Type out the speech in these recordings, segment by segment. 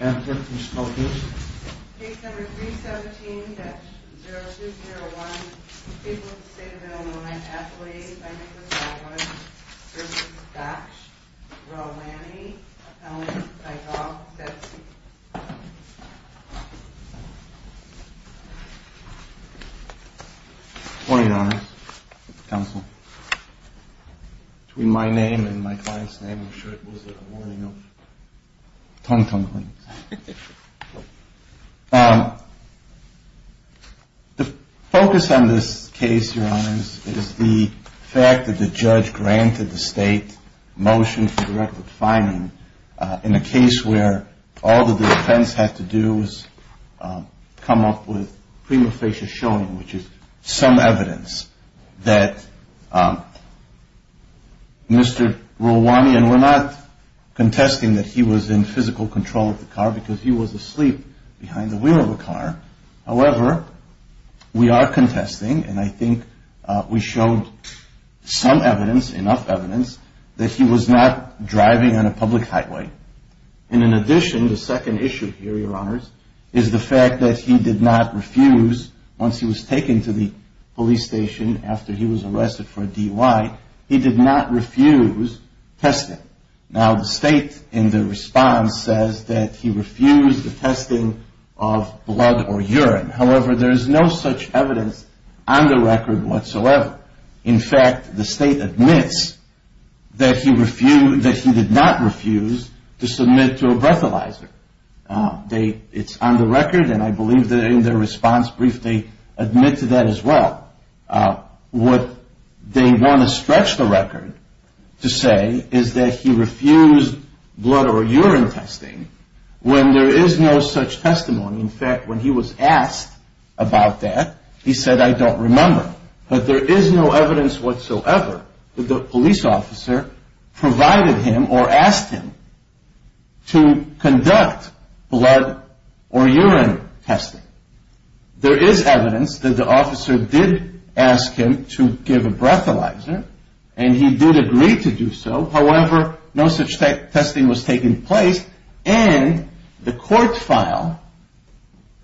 Anthony Spokes Case number 317-0201 People of the State of Illinois Affiliated by Nicholas Atwood v. Dach Relwani Appellant Ida Zetsky Good morning Your Honor Counsel Between my name and my client's name I'm sure it was a warning of clunking things The focus on this case Your Honor is the fact that the judge granted the state a motion for direct defining in a case where all the defense had to do was come up with prima facie showing which is some evidence that Mr. Relwani and we're not contesting that he was in physical control of the car because he was asleep behind the wheel of a car however we are contesting and I think we showed some evidence enough evidence that he was not driving on a public highway and in addition the second issue here Your Honors is the fact that he did not refuse once he was taken to the police station after he was arrested for a DUI he did not refuse testing now the state in the response says that he refused the testing of blood or urine however there is no such evidence on the record whatsoever in fact the state admits that he refused that he did not refuse to submit to a breathalyzer they it's on the record and I believe that in their response brief they admit to that as well what they want to stretch the record to say is that he refused blood or urine testing when there is no such testimony in fact when he was asked about that he said I don't remember but there is no evidence whatsoever that the police officer provided him or asked him to conduct blood or urine testing there is evidence that the officer did ask him to give a breathalyzer and he did agree to do so however no such testing was taken place and the court file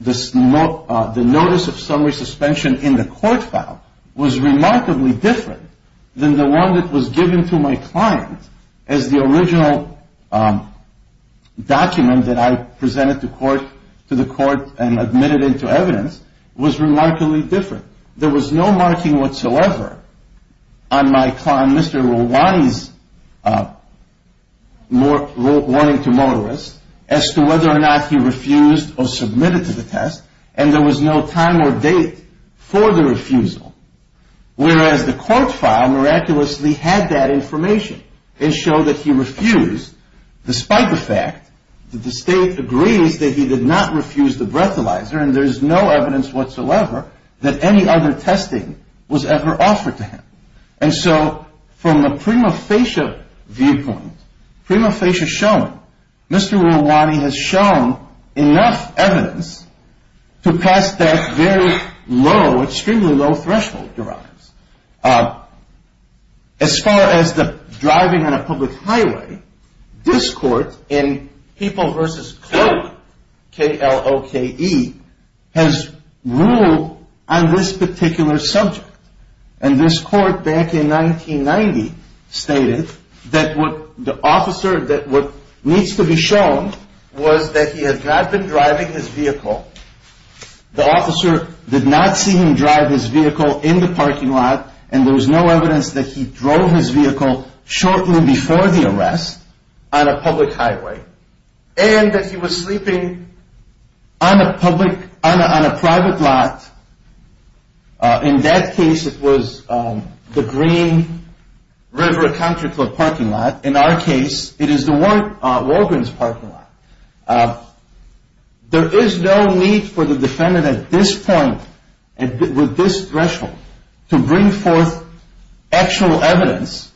the notice of summary suspension in the court file was remarkably different than the one that was given to my client as the original document that I presented to court to the court and admitted it to evidence was remarkably different there was no marking whatsoever on my client Mr. Rewani's warning to motorists as to whether or not he refused or submitted to the test and there was no time or date for the refusal whereas the court file miraculously had that information and showed that he refused despite the fact that the state agrees that he did not refuse the breathalyzer and there is no evidence whatsoever that any other testing was ever offered to him and so from a prima facie perspective viewpoint prima facie showing Mr. Rewani has shown enough evidence to pass that very low extremely low threshold derives as far as the driving on a public highway this court in people versus cloak K-L-O-K-E has ruled on this particular subject and this court back in 1990 stated that what the officer what needs to be shown was that he had not been driving his vehicle the officer did not see him drive his vehicle in the parking lot and there was no evidence that he drove his vehicle shortly before the arrest on a public highway and that he was sleeping on a public on a private lot in that case it was the green river country club parking lot in our case it is the Walgreens parking lot there is no need for the defendant at this point with this threshold to bring forth actual evidence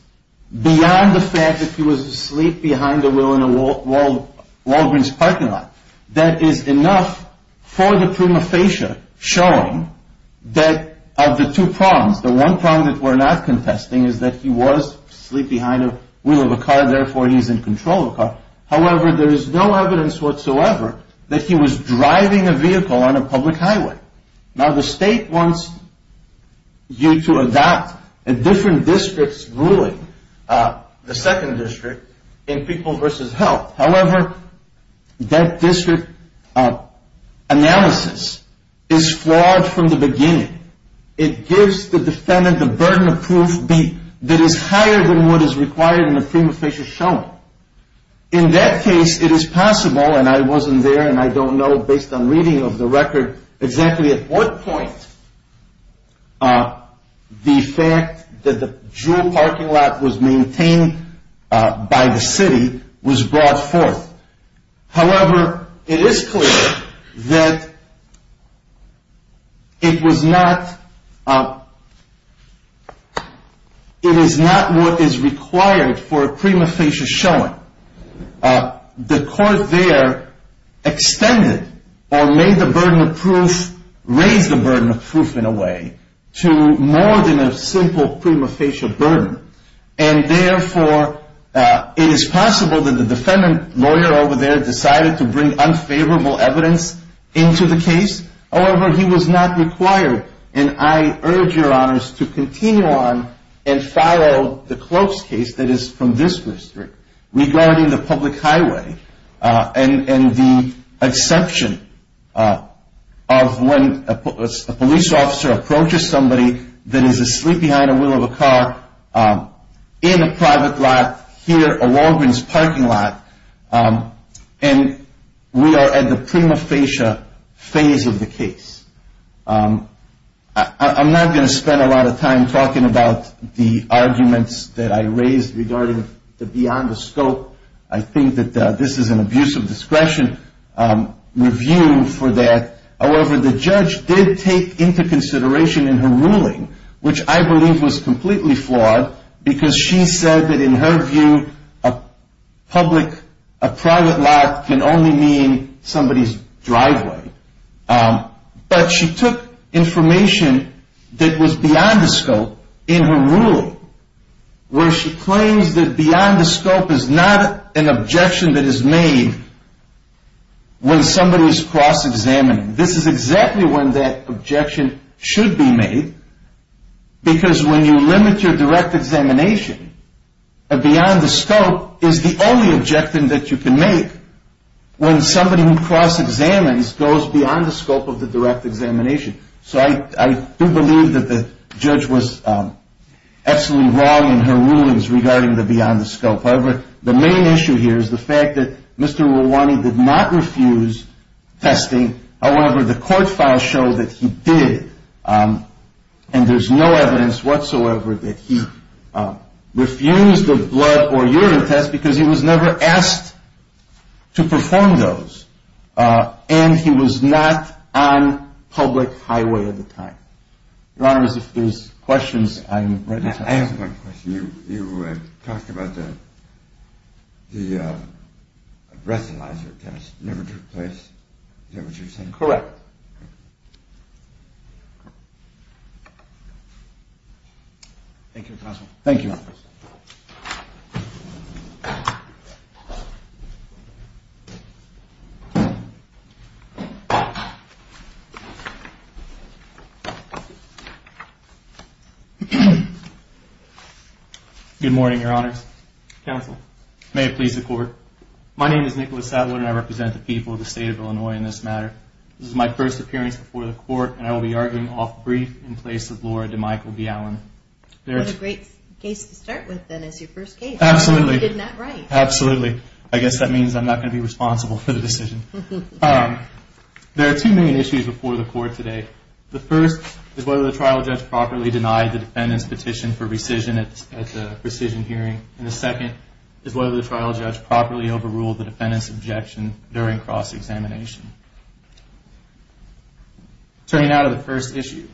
beyond the fact that he was asleep behind the wheel in a Walgreens parking lot that is enough for the prima facie showing that of the two prongs the one prong that we're not contesting is that he was asleep behind the wheel of a car therefore he is in control of a car however there is no evidence whatsoever that he was driving a vehicle on a public highway now the state wants you to adopt a different district's ruling the second district in people versus health however that district analysis is flawed from the beginning it gives the defendant the burden of proof b that is higher than what is required in the prima facie showing in that case it is possible and I wasn't there and I don't know based on reading of the record exactly at what point the fact that the jewel parking lot was maintained by the city was brought forth however it is clear that it was not it is not what is required for a prima facie showing the court there extended or made the burden of proof raised the burden of proof in a way to more than a simple prima facie burden and therefore it is possible that the defendant lawyer over there decided to bring unfavorable evidence into the case however he was not required and I urge your honors to continue on and follow the close case that is from this district regarding the public highway and the exception of when a police officer approaches somebody that is asleep behind a wheel of a car in a private lot here a Walgreens parking lot and we are at the prima facie phase of the case I'm not going to spend a lot of time talking about the arguments that I raised regarding the beyond the scope I think that this is an abuse of discretion review for that however the judge did take into consideration in her ruling which I believe was completely flawed because she said that in her view a public a private lot can only mean somebody's driveway but she took information that was beyond the scope in her ruling where she claims that beyond the scope is not an objection that is made when somebody is cross examining this is exactly when that objection should be made because when you limit your direct examination a beyond the scope is the only objection that you can make when somebody who cross examines goes beyond the scope of the direct examination so I do believe that the judge was absolutely wrong in her rulings regarding the beyond the scope however the main issue here is the fact that Mr. Rewani did not refuse testing however the court files show that he did and there's no evidence whatsoever that he refused a blood or urine test because he was never asked to perform those and he was not on public highway at the time. Your Honor if there's questions I'm ready to answer. I have one question. You talked about the breathalyzer test never took place Your Honor. Thank you Your Honor. Thank you Your Honor. Thank you Your Honor. Thank you Your Honor. Thank you Your Honor. Thank you Your Honor. Thank you Thank you Your Honor. Thank you Your Honor. Thank you Your Honor. Thank you Your Honor. Thank you Your Honor. Thank you Good morning Your Honor's Principal may please the court my name is Nicholas Sadler and I represent the people of the state of Illinois in this matter. This is my first appearance before the court and I will be arguing off brief in place of Laura DeMichael G. Allen. What a great case to start with then as your first case. Absolutely. I guess that means I'm not going to be responsible for the decision. There are two main issues before the court today. The first is whether the trial judge properly denied the defendant's petition for rescission at the rescission hearing and the second is whether the trial judge properly overruled the defendant's objection during cross-examination. Turning now to the first issue,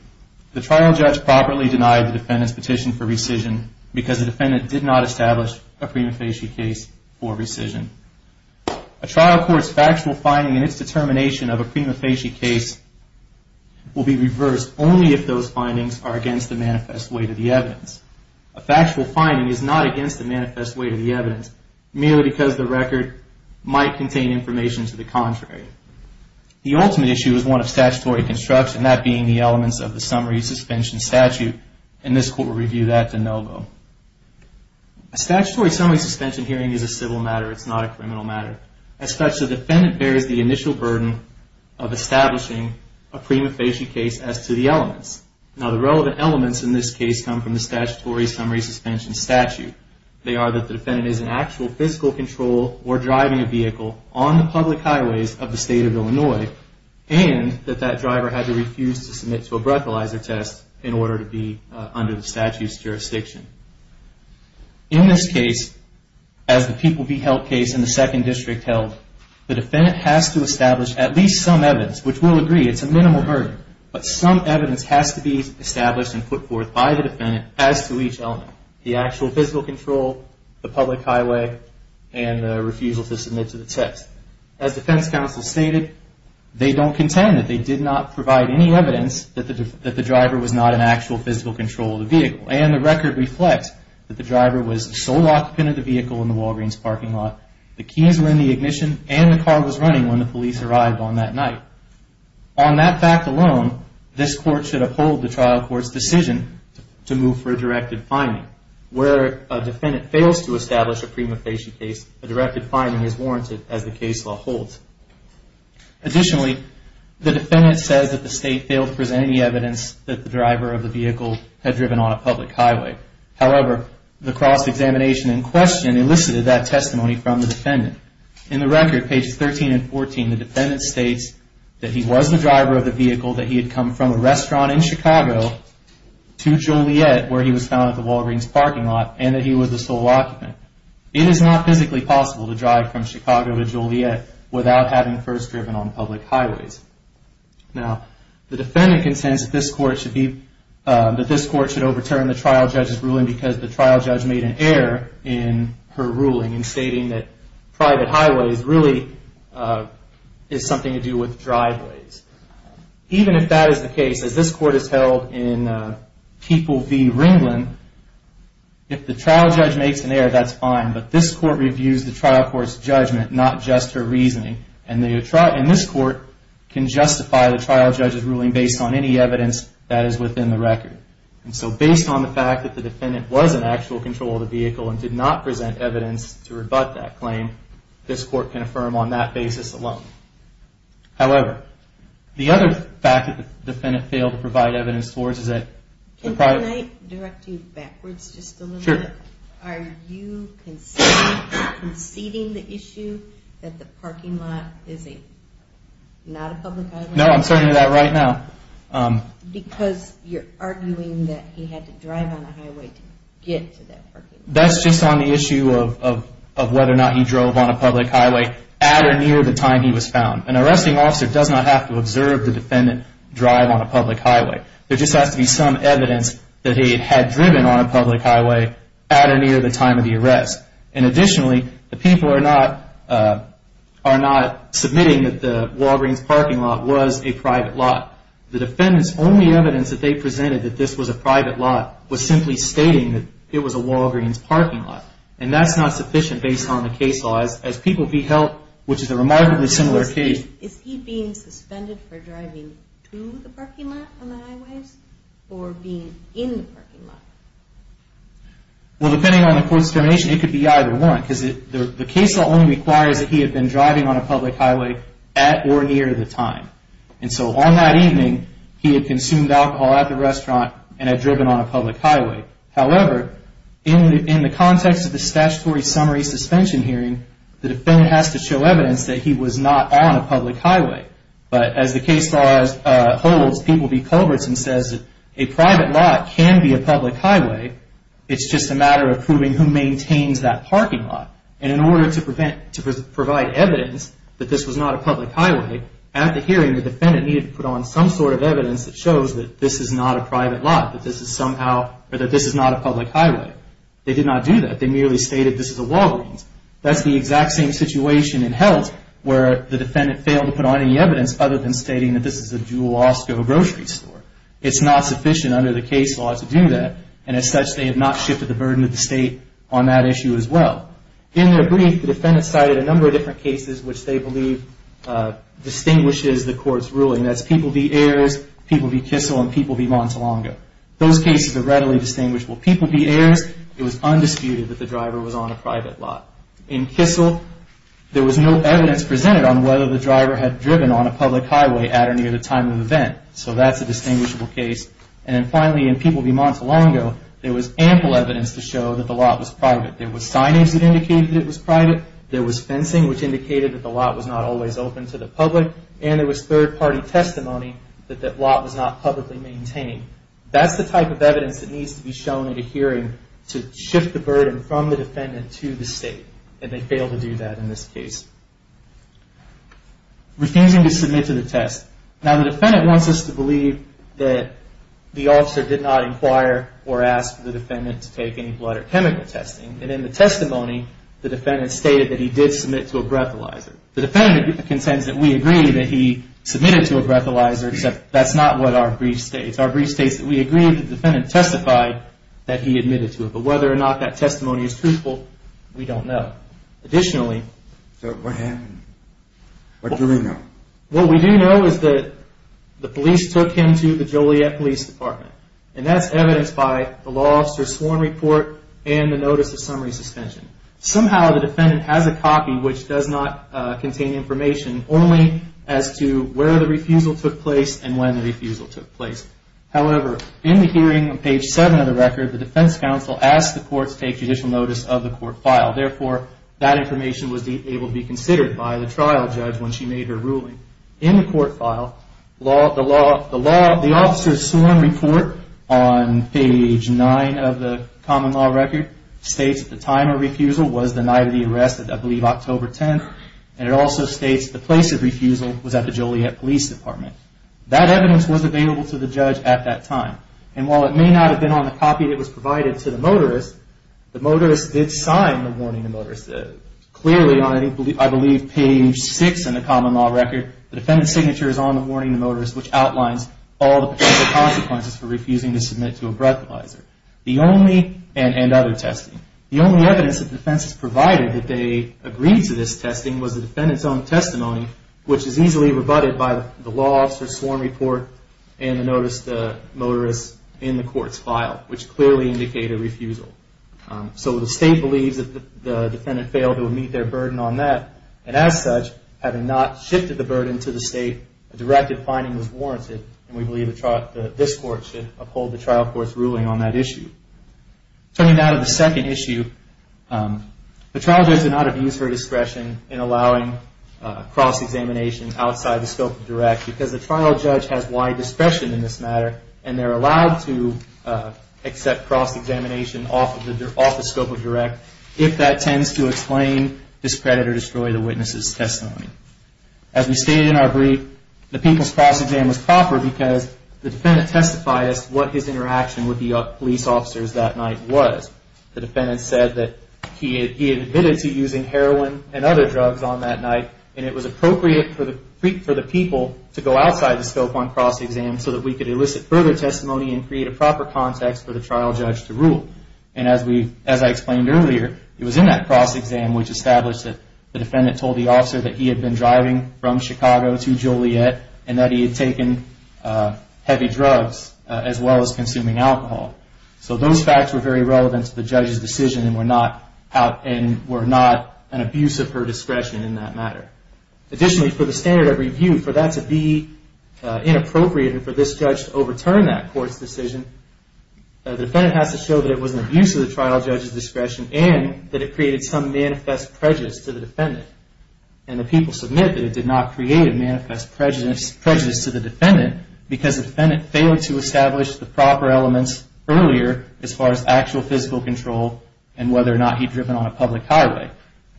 the trial judge properly denied the defendant's petition for rescission because the defendant did not establish a prima facie case for rescission. A trial court's factual finding in its determination of a prima facie case will be reversed only if those findings are against the manifest weight of the evidence. A factual finding is not against the manifest weight of the evidence merely because the record might contain information to the contrary. The ultimate issue is one of statutory construction, that being the elements of the summary suspension statute and this court will review that de novo. A statutory summary suspension hearing is a civil matter, it's not a criminal matter. As such, the defendant bears the initial burden of establishing a prima facie case as to the elements. Now, the relevant elements in this case come from the statutory summary suspension statute. They are that the defendant is in actual physical control or driving a vehicle on the public highways of the state of Illinois and that that driver had to refuse to submit to a breathalyzer test in order to be under the statute's jurisdiction. In this case, as the people be held case in the second district held, the defendant has to establish at least some evidence, which we'll agree it's a minimal burden, but some evidence has to be established and put forth by the defendant as to each element. The actual physical control, the public highway, and the refusal to submit to the test. As defense counsel stated, they don't contend that they did not provide any evidence that the driver was not in actual physical control of the vehicle and the record reflects that the driver was the sole occupant of the Walgreens parking lot. The keys were in the ignition and the car was running when the police arrived on that night. On that fact alone, this court should uphold the trial court's decision to move for a directed finding. Where a defendant fails to establish a prima facie case, a directed finding is warranted as the case law holds. Additionally, the defendant says that the state failed to present any evidence that the driver of the vehicle had driven on a public highway. However, the cross examination in question elicits a testimony from the defendant. In the record, pages 13 and 14, the defendant states that he was the driver of the vehicle, that he had come from a restaurant in Chicago to Joliet where he was found at the Walgreens parking lot and that he was the sole occupant. It is not physically possible to drive from Chicago to Joliet without having first driven on public highways. Now, the defendant contends that this court should overturn the trial judge's ruling because the trial judge made an error in her ruling. In stating that private highways really is something to do with driveways. Even if that is the case, as this court has held in People v. Ringland, if the trial judge makes an error, that's fine. But this court reviews the trial court's judgment, not just her reasoning. And this court can justify the trial judge's ruling based on any evidence that is within the record. And so, based on the fact that the defendant was in actual control of the vehicle and did not present evidence to rebut that claim, this court can affirm on that basis alone. However, the other fact that the defendant failed to provide evidence towards is that the private... Can I direct you backwards just a little bit? Sure. Are you conceding the issue that the parking lot is not a public highway? No, I'm saying that right now. Because you're arguing that he had to drive on a highway to get to that parking lot. That's just on the issue of the question of whether or not he drove on a public highway at or near the time he was found. An arresting officer does not have to observe the defendant drive on a public highway. There just has to be some evidence that he had driven on a public highway at or near the time of the arrest. And additionally, the people are not submitting that the Walgreens parking lot was a private lot. The defendant's only evidence that they presented that this was a private lot was simply stating that it was a Walgreens parking lot. And that's not sufficient based on the case law as people be held, which is a remarkably similar case. Is he being suspended for driving to the parking lot on the highways or being in the parking lot? Well, depending on the court's determination, it could be either one. Because the case law only requires that he had been driving on a public highway at or near the time. And so on that evening, he had consumed alcohol at the restaurant and had driven on a public highway. However, in the context of the statutory summary suspension hearing, the defendant has to show evidence that he was not on a public highway. But as the case law holds, people be culverts and says that a private lot can be a public highway. It's just a matter of proving who maintains that parking lot. And in order to provide evidence that this was not a public highway, at the hearing, the defendant needed to put on some sort of evidence that shows that this is not a private lot, that this is somehow, or that this is not a public highway. They did not do that. They merely stated that this is a Walgreens. That's the exact same situation in health where the defendant failed to put on any evidence other than stating that this is a Jewel Osco grocery store. It's not sufficient under the case law to do that. And as such, they have not shifted the burden of the state on that issue as well. In their brief, the defendant cited a number of different cases which they believe distinguishes the court's ruling. That's people be Ayers, people be Kissel, and people be Montelongo. Those cases are readily distinguishable. People be Ayers, it was undisputed that the driver was on a private lot. In Kissel, there was no evidence presented on whether the driver had driven on a public highway at or near the time of the event. So that's a distinguishable case. And finally, in people be Montelongo, there was ample evidence to show that the lot was private. There was signage that indicated it was private. There was fencing which indicated that the lot was not always open to the public. And there was third party testimony that that lot was not publicly maintained. That's the type of evidence that needs to be shown at a hearing to shift the burden from the defendant to the state. And they failed to do that in this case. Refusing to submit to the test. Now, the defendant wants us to believe that the officer did not inquire or ask the defendant to take any blood or chemical testing. And in the testimony, that he did submit to a breathalyzer. The defendant contends that we agree that he submitted to a breathalyzer, except that's not what our briefs say. Our brief states that we agree that the defendant testified that he admitted to it. But whether or not that testimony is truthful, we don't know. Additionally... So what happened? What do we know? What we do know is that the police took him to the Joliet Police Department. And that's evidenced by the law officer's sworn report and the notice of summary suspension. Somehow the defendant has a copy which does not contain information only as to where the refusal took place and when the refusal took place. However, in the hearing on page 7 of the record, the defense counsel asked the court to take judicial notice of the court file. Therefore, that information was able to be considered by the trial judge when she made her ruling. In the court file, the law officer's sworn report on page 9 of the common law record states that the time of refusal was the night of the arrest, I believe October 10th. And it also states the place of refusal was at the Joliet Police Department. That evidence was available to the defense counsel and to the judge at that time. And while it may not have been on the copy that was provided to the motorist, the motorist did sign the warning to the motorist. Clearly on, I believe, page 6 in the common law record, the defendant's signature is on the warning to the motorist which outlines all the potential consequences for refusing to submit to a breathalyzer and other testing. The only evidence that the defense has provided that they agreed to this testing was the defendant's own testimony, which is easily rebutted by the law officer's sworn report and the notice the motorist in the court's file, which clearly indicate a refusal. So the state believes that the defendant failed to meet their burden on that, and as such, having not shifted the burden to the state, a directive finding was warranted, and we believe this court should uphold the trial court's ruling on that issue. Turning now to the second issue, the trial judge did not have used her discretion in allowing cross examination outside the scope of direct, because the trial judge has wide discretion in this matter, and they're allowed to accept cross examination off the scope of direct if that tends to explain, discredit, or destroy the witness's testimony. As we stated in our brief, the people's cross exam was proper because the defendant testified as to what his interaction with the police officers that night was. The defendant said that he had admitted to using heroin and other drugs on that night, and it was appropriate for the people to go outside the scope on cross exam so that we could elicit further testimony and create a proper context for the trial judge to rule. And as I explained earlier, it was in that cross exam which established that the defendant told the officer that he had been driving from Chicago to Joliet, and that he had taken heavy drugs as well as consuming alcohol. So those facts were very relevant to the judge's decision and were not an abuse of her discretion in that matter. Additionally, for the standard of review, for that to be inappropriate and for this judge to overturn that court's decision, the defendant has to show that it was an abuse of the trial judge's discretion and that it created some manifest prejudice to the defendant. And the people submit that it did not create a manifest prejudice to the defendant because the defendant failed to establish the proper elements earlier as far as actual physical control and whether or not he had driven on a public highway.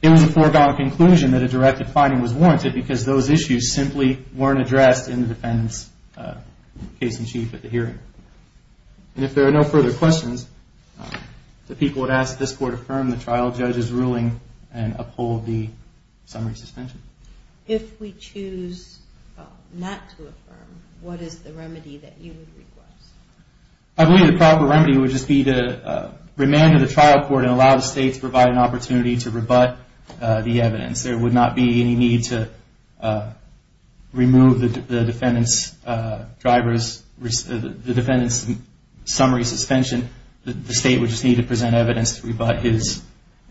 It was a foregone conclusion that a directed finding was warranted because those issues simply weren't addressed in the defendant's case in chief at the hearing. And if there are no further questions, the people would ask that this court affirm the trial uphold the summary suspension. If we choose not to affirm, what is the remedy that you would request? I believe the proper remedy would just be to remand the trial court and allow the state to provide an opportunity to rebut the evidence. There would not be any need to remove the defendant's summary suspension. The state would just need to present evidence to rebut his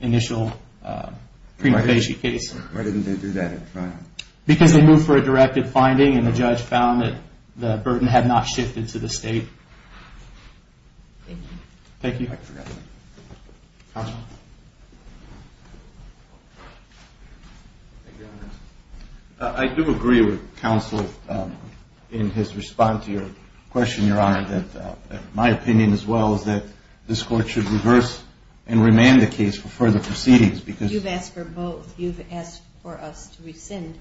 initial prima facie case. Why didn't they do that at the trial? Because they moved for a directed finding and the judge found that the burden had not shifted to the state. Thank you. Thank you. I do agree with counsel in his response to your question, Your Honor, that my opinion as well is that this court should reverse and remand the case for further proceedings. You've asked for both. You've asked for us to rescind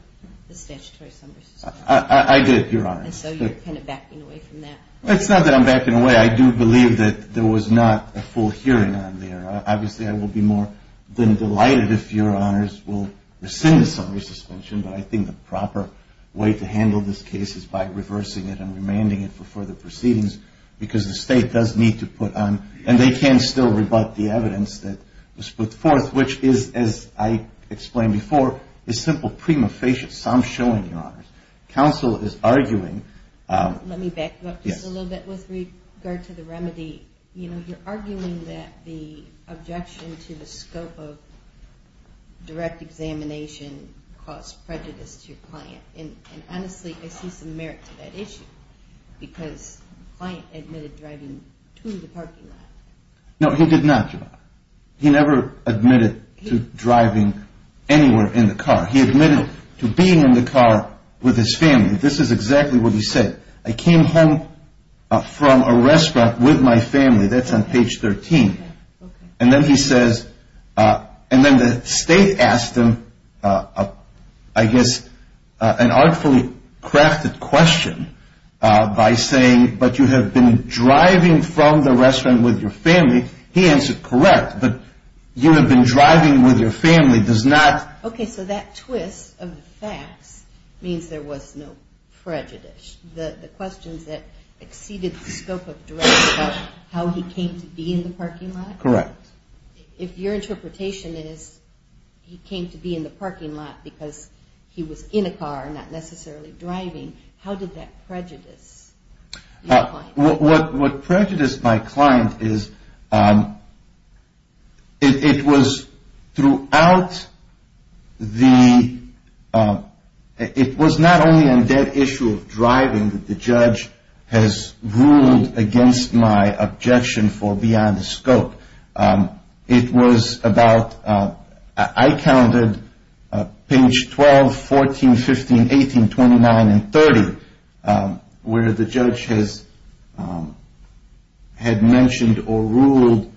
the statutory summary suspension. I did, Your Honor. And so you're kind of backing away from that. It's not that I'm backing away. I do believe that there was not a full hearing on there. Obviously, I will be more than delighted if Your Honors will rescind the summary suspension, but I think the proper way to handle this case is by reversing it and remanding it for further proceedings because the state does need to put on, and they can still rebut the evidence that was put forth, which is, as I explained before, is simple prima facie. So I'm showing, Your Honors, counsel is arguing. Let me back you up just a little bit with regard to the remedy. You're arguing that the objection to the scope of direct examination caused prejudice to your client, and honestly, I see some merit to that issue because the client admitted driving to the parking lot. No, he did not, Your Honor. He never admitted to driving anywhere in the car. He admitted to being in the car with his family. This is exactly what he said. I came home from a restaurant with my family. That's on page 13. And then he says, and then the state asked him, I guess, an artfully crafted question by saying, but you have been driving from the restaurant with your family. He answered correct, but you have been driving with your family does not Okay, so that twist of the facts means there was no prejudice. The questions that exceeded the scope of direction about how he came to be in the parking lot? Correct. If your interpretation is he came to be in the parking lot because he was in a car, not necessarily my client? What prejudiced my client is it was throughout the, it was not only on that issue of driving but it was on the issue of driving that the judge has ruled against my objection for beyond the scope. It was about, I counted page 12, 14, 15, 18, 29, and 30 where the judge has had mentioned or ruled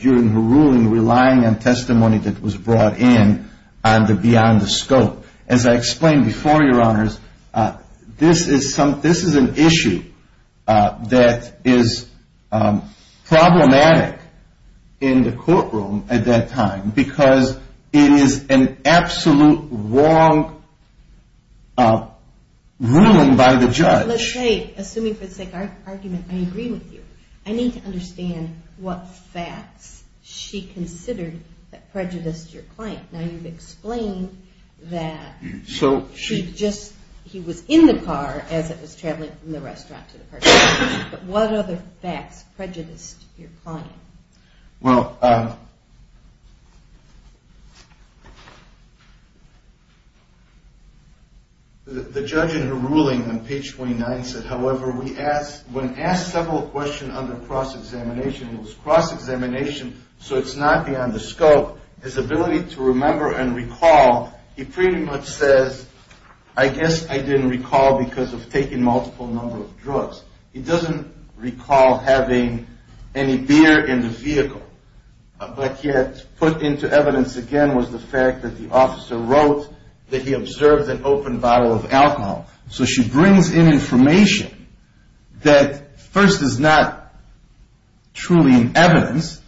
during her ruling relying on testimony that was brought in on the beyond the scope. As I explained before your honors, this is an issue that is problematic in the courtroom at that time because it is an absolute wrong ruling by the judge. Let's say, assuming for the sake of argument, I agree with you. I need to understand what facts she considered that prejudiced your client. Now you've explained that she just said he was in the car as it was traveling from the restaurant to the parking lot. But what other facts prejudiced your client? The judge in her ruling on page 29 said, however, when asked several questions under cross-examination it was cross-examination so it's not beyond the scope. His ability to remember and recall, he pretty much says, I guess I didn't recall because of taking multiple number of drugs. He doesn't recall having any beer in the vehicle. But yet put into evidence again was the fact that the officer wrote that he observed an open bottle of alcohol. So she brings in information that first is not truly in the of the case.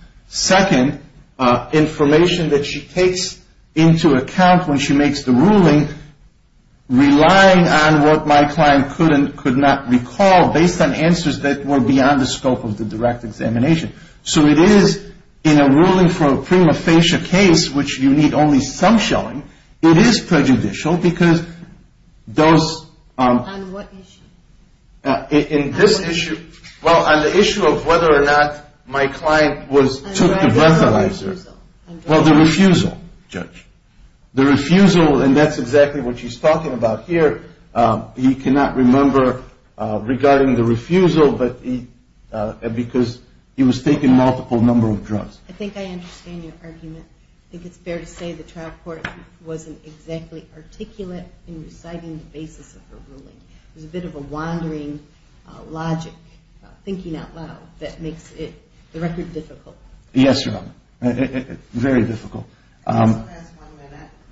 She takes into account when she makes the ruling relying on what my client could not recall based on answers that were beyond the scope of the direct examination. So it is in a ruling for a prima facie case which you need only some showing, it is prejudicial because those On what issue? In this issue, well on the issue of whether or not my client was took the breathalyzer, well the refusal, judge. The refusal, and that's exactly what she's talking about here, he cannot remember regarding the refusal because he was taking multiple drugs. I think I understand your argument. I think it's fair to say the trial court wasn't exactly articulate in reciting the basis of the ruling. It was a bit of a wandering logic, thinking out loud, that makes the record difficult. Yes, Your Honor. Very difficult.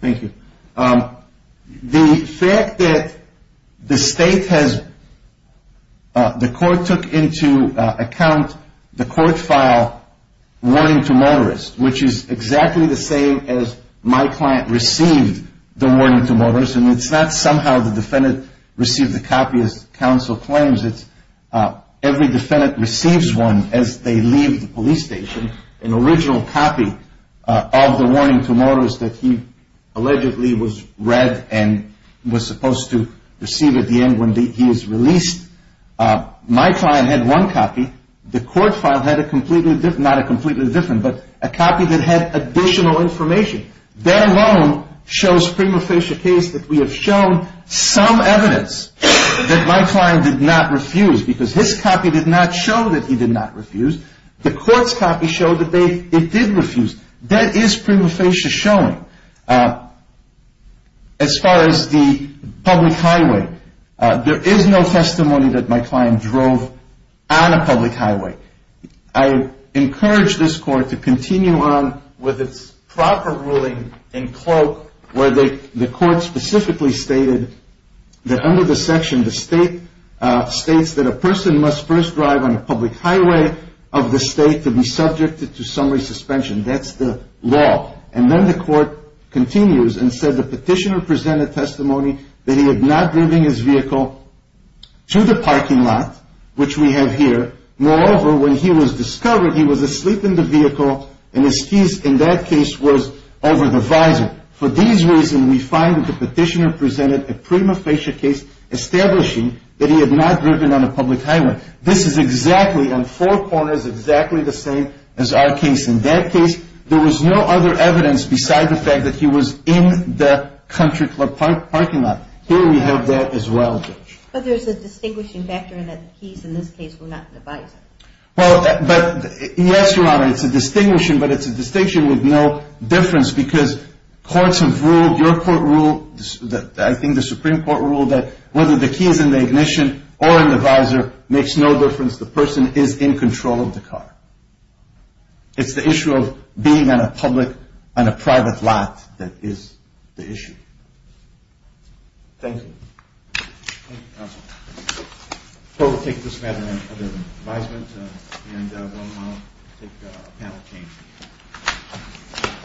Thank you. The fact that the court took into account the court file warning to motorist, which is exactly the same as my client received the warning to motorist, and it's not somehow the defendant received a copy as counsel claims, it's every defendant receives one as they leave the police station, an original copy of the warning to motorist that he allegedly was read and was supposed to receive at the end when he was released. My client had one copy. The court file had a completely different, not a completely different, but a copy that had additional information. That alone shows prima facie evidence that my client did not refuse because his copy did not show that he did not refuse. The court's copy showed that it did refuse. That is prima facie showing. As far as the public highway, there is no testimony that my client drove on a public highway. I encourage this court to continue on with its proper ruling in cloak where the court specifically stated that under the section the state states that a person must first drive on a public highway of the state to be subjected to summary suspension. That's the law. And then the court continues and said the petitioner presented testimony that he had not driven his vehicle and his keys in that case was over the visor. For these reasons we find the petitioner presented a prima facie case establishing that he had not driven on a public highway. This is exactly on four corners exactly the same as our case. In that case there was no other evidence besides the fact that he was in the country club parking lot. Here we have that as well. But there's a distinguishing factor in that the keys in this case were not in the visor. Yes, Your Honor, it's a distinguishing but it's a distinction with no difference because courts have ruled, your court ruled, I think the Supreme Court ruled that whether the keys in the ignition or in the visor makes no difference, the person is in control of the car. It's the issue of being on a public, on a private lot that is the issue. Thank you.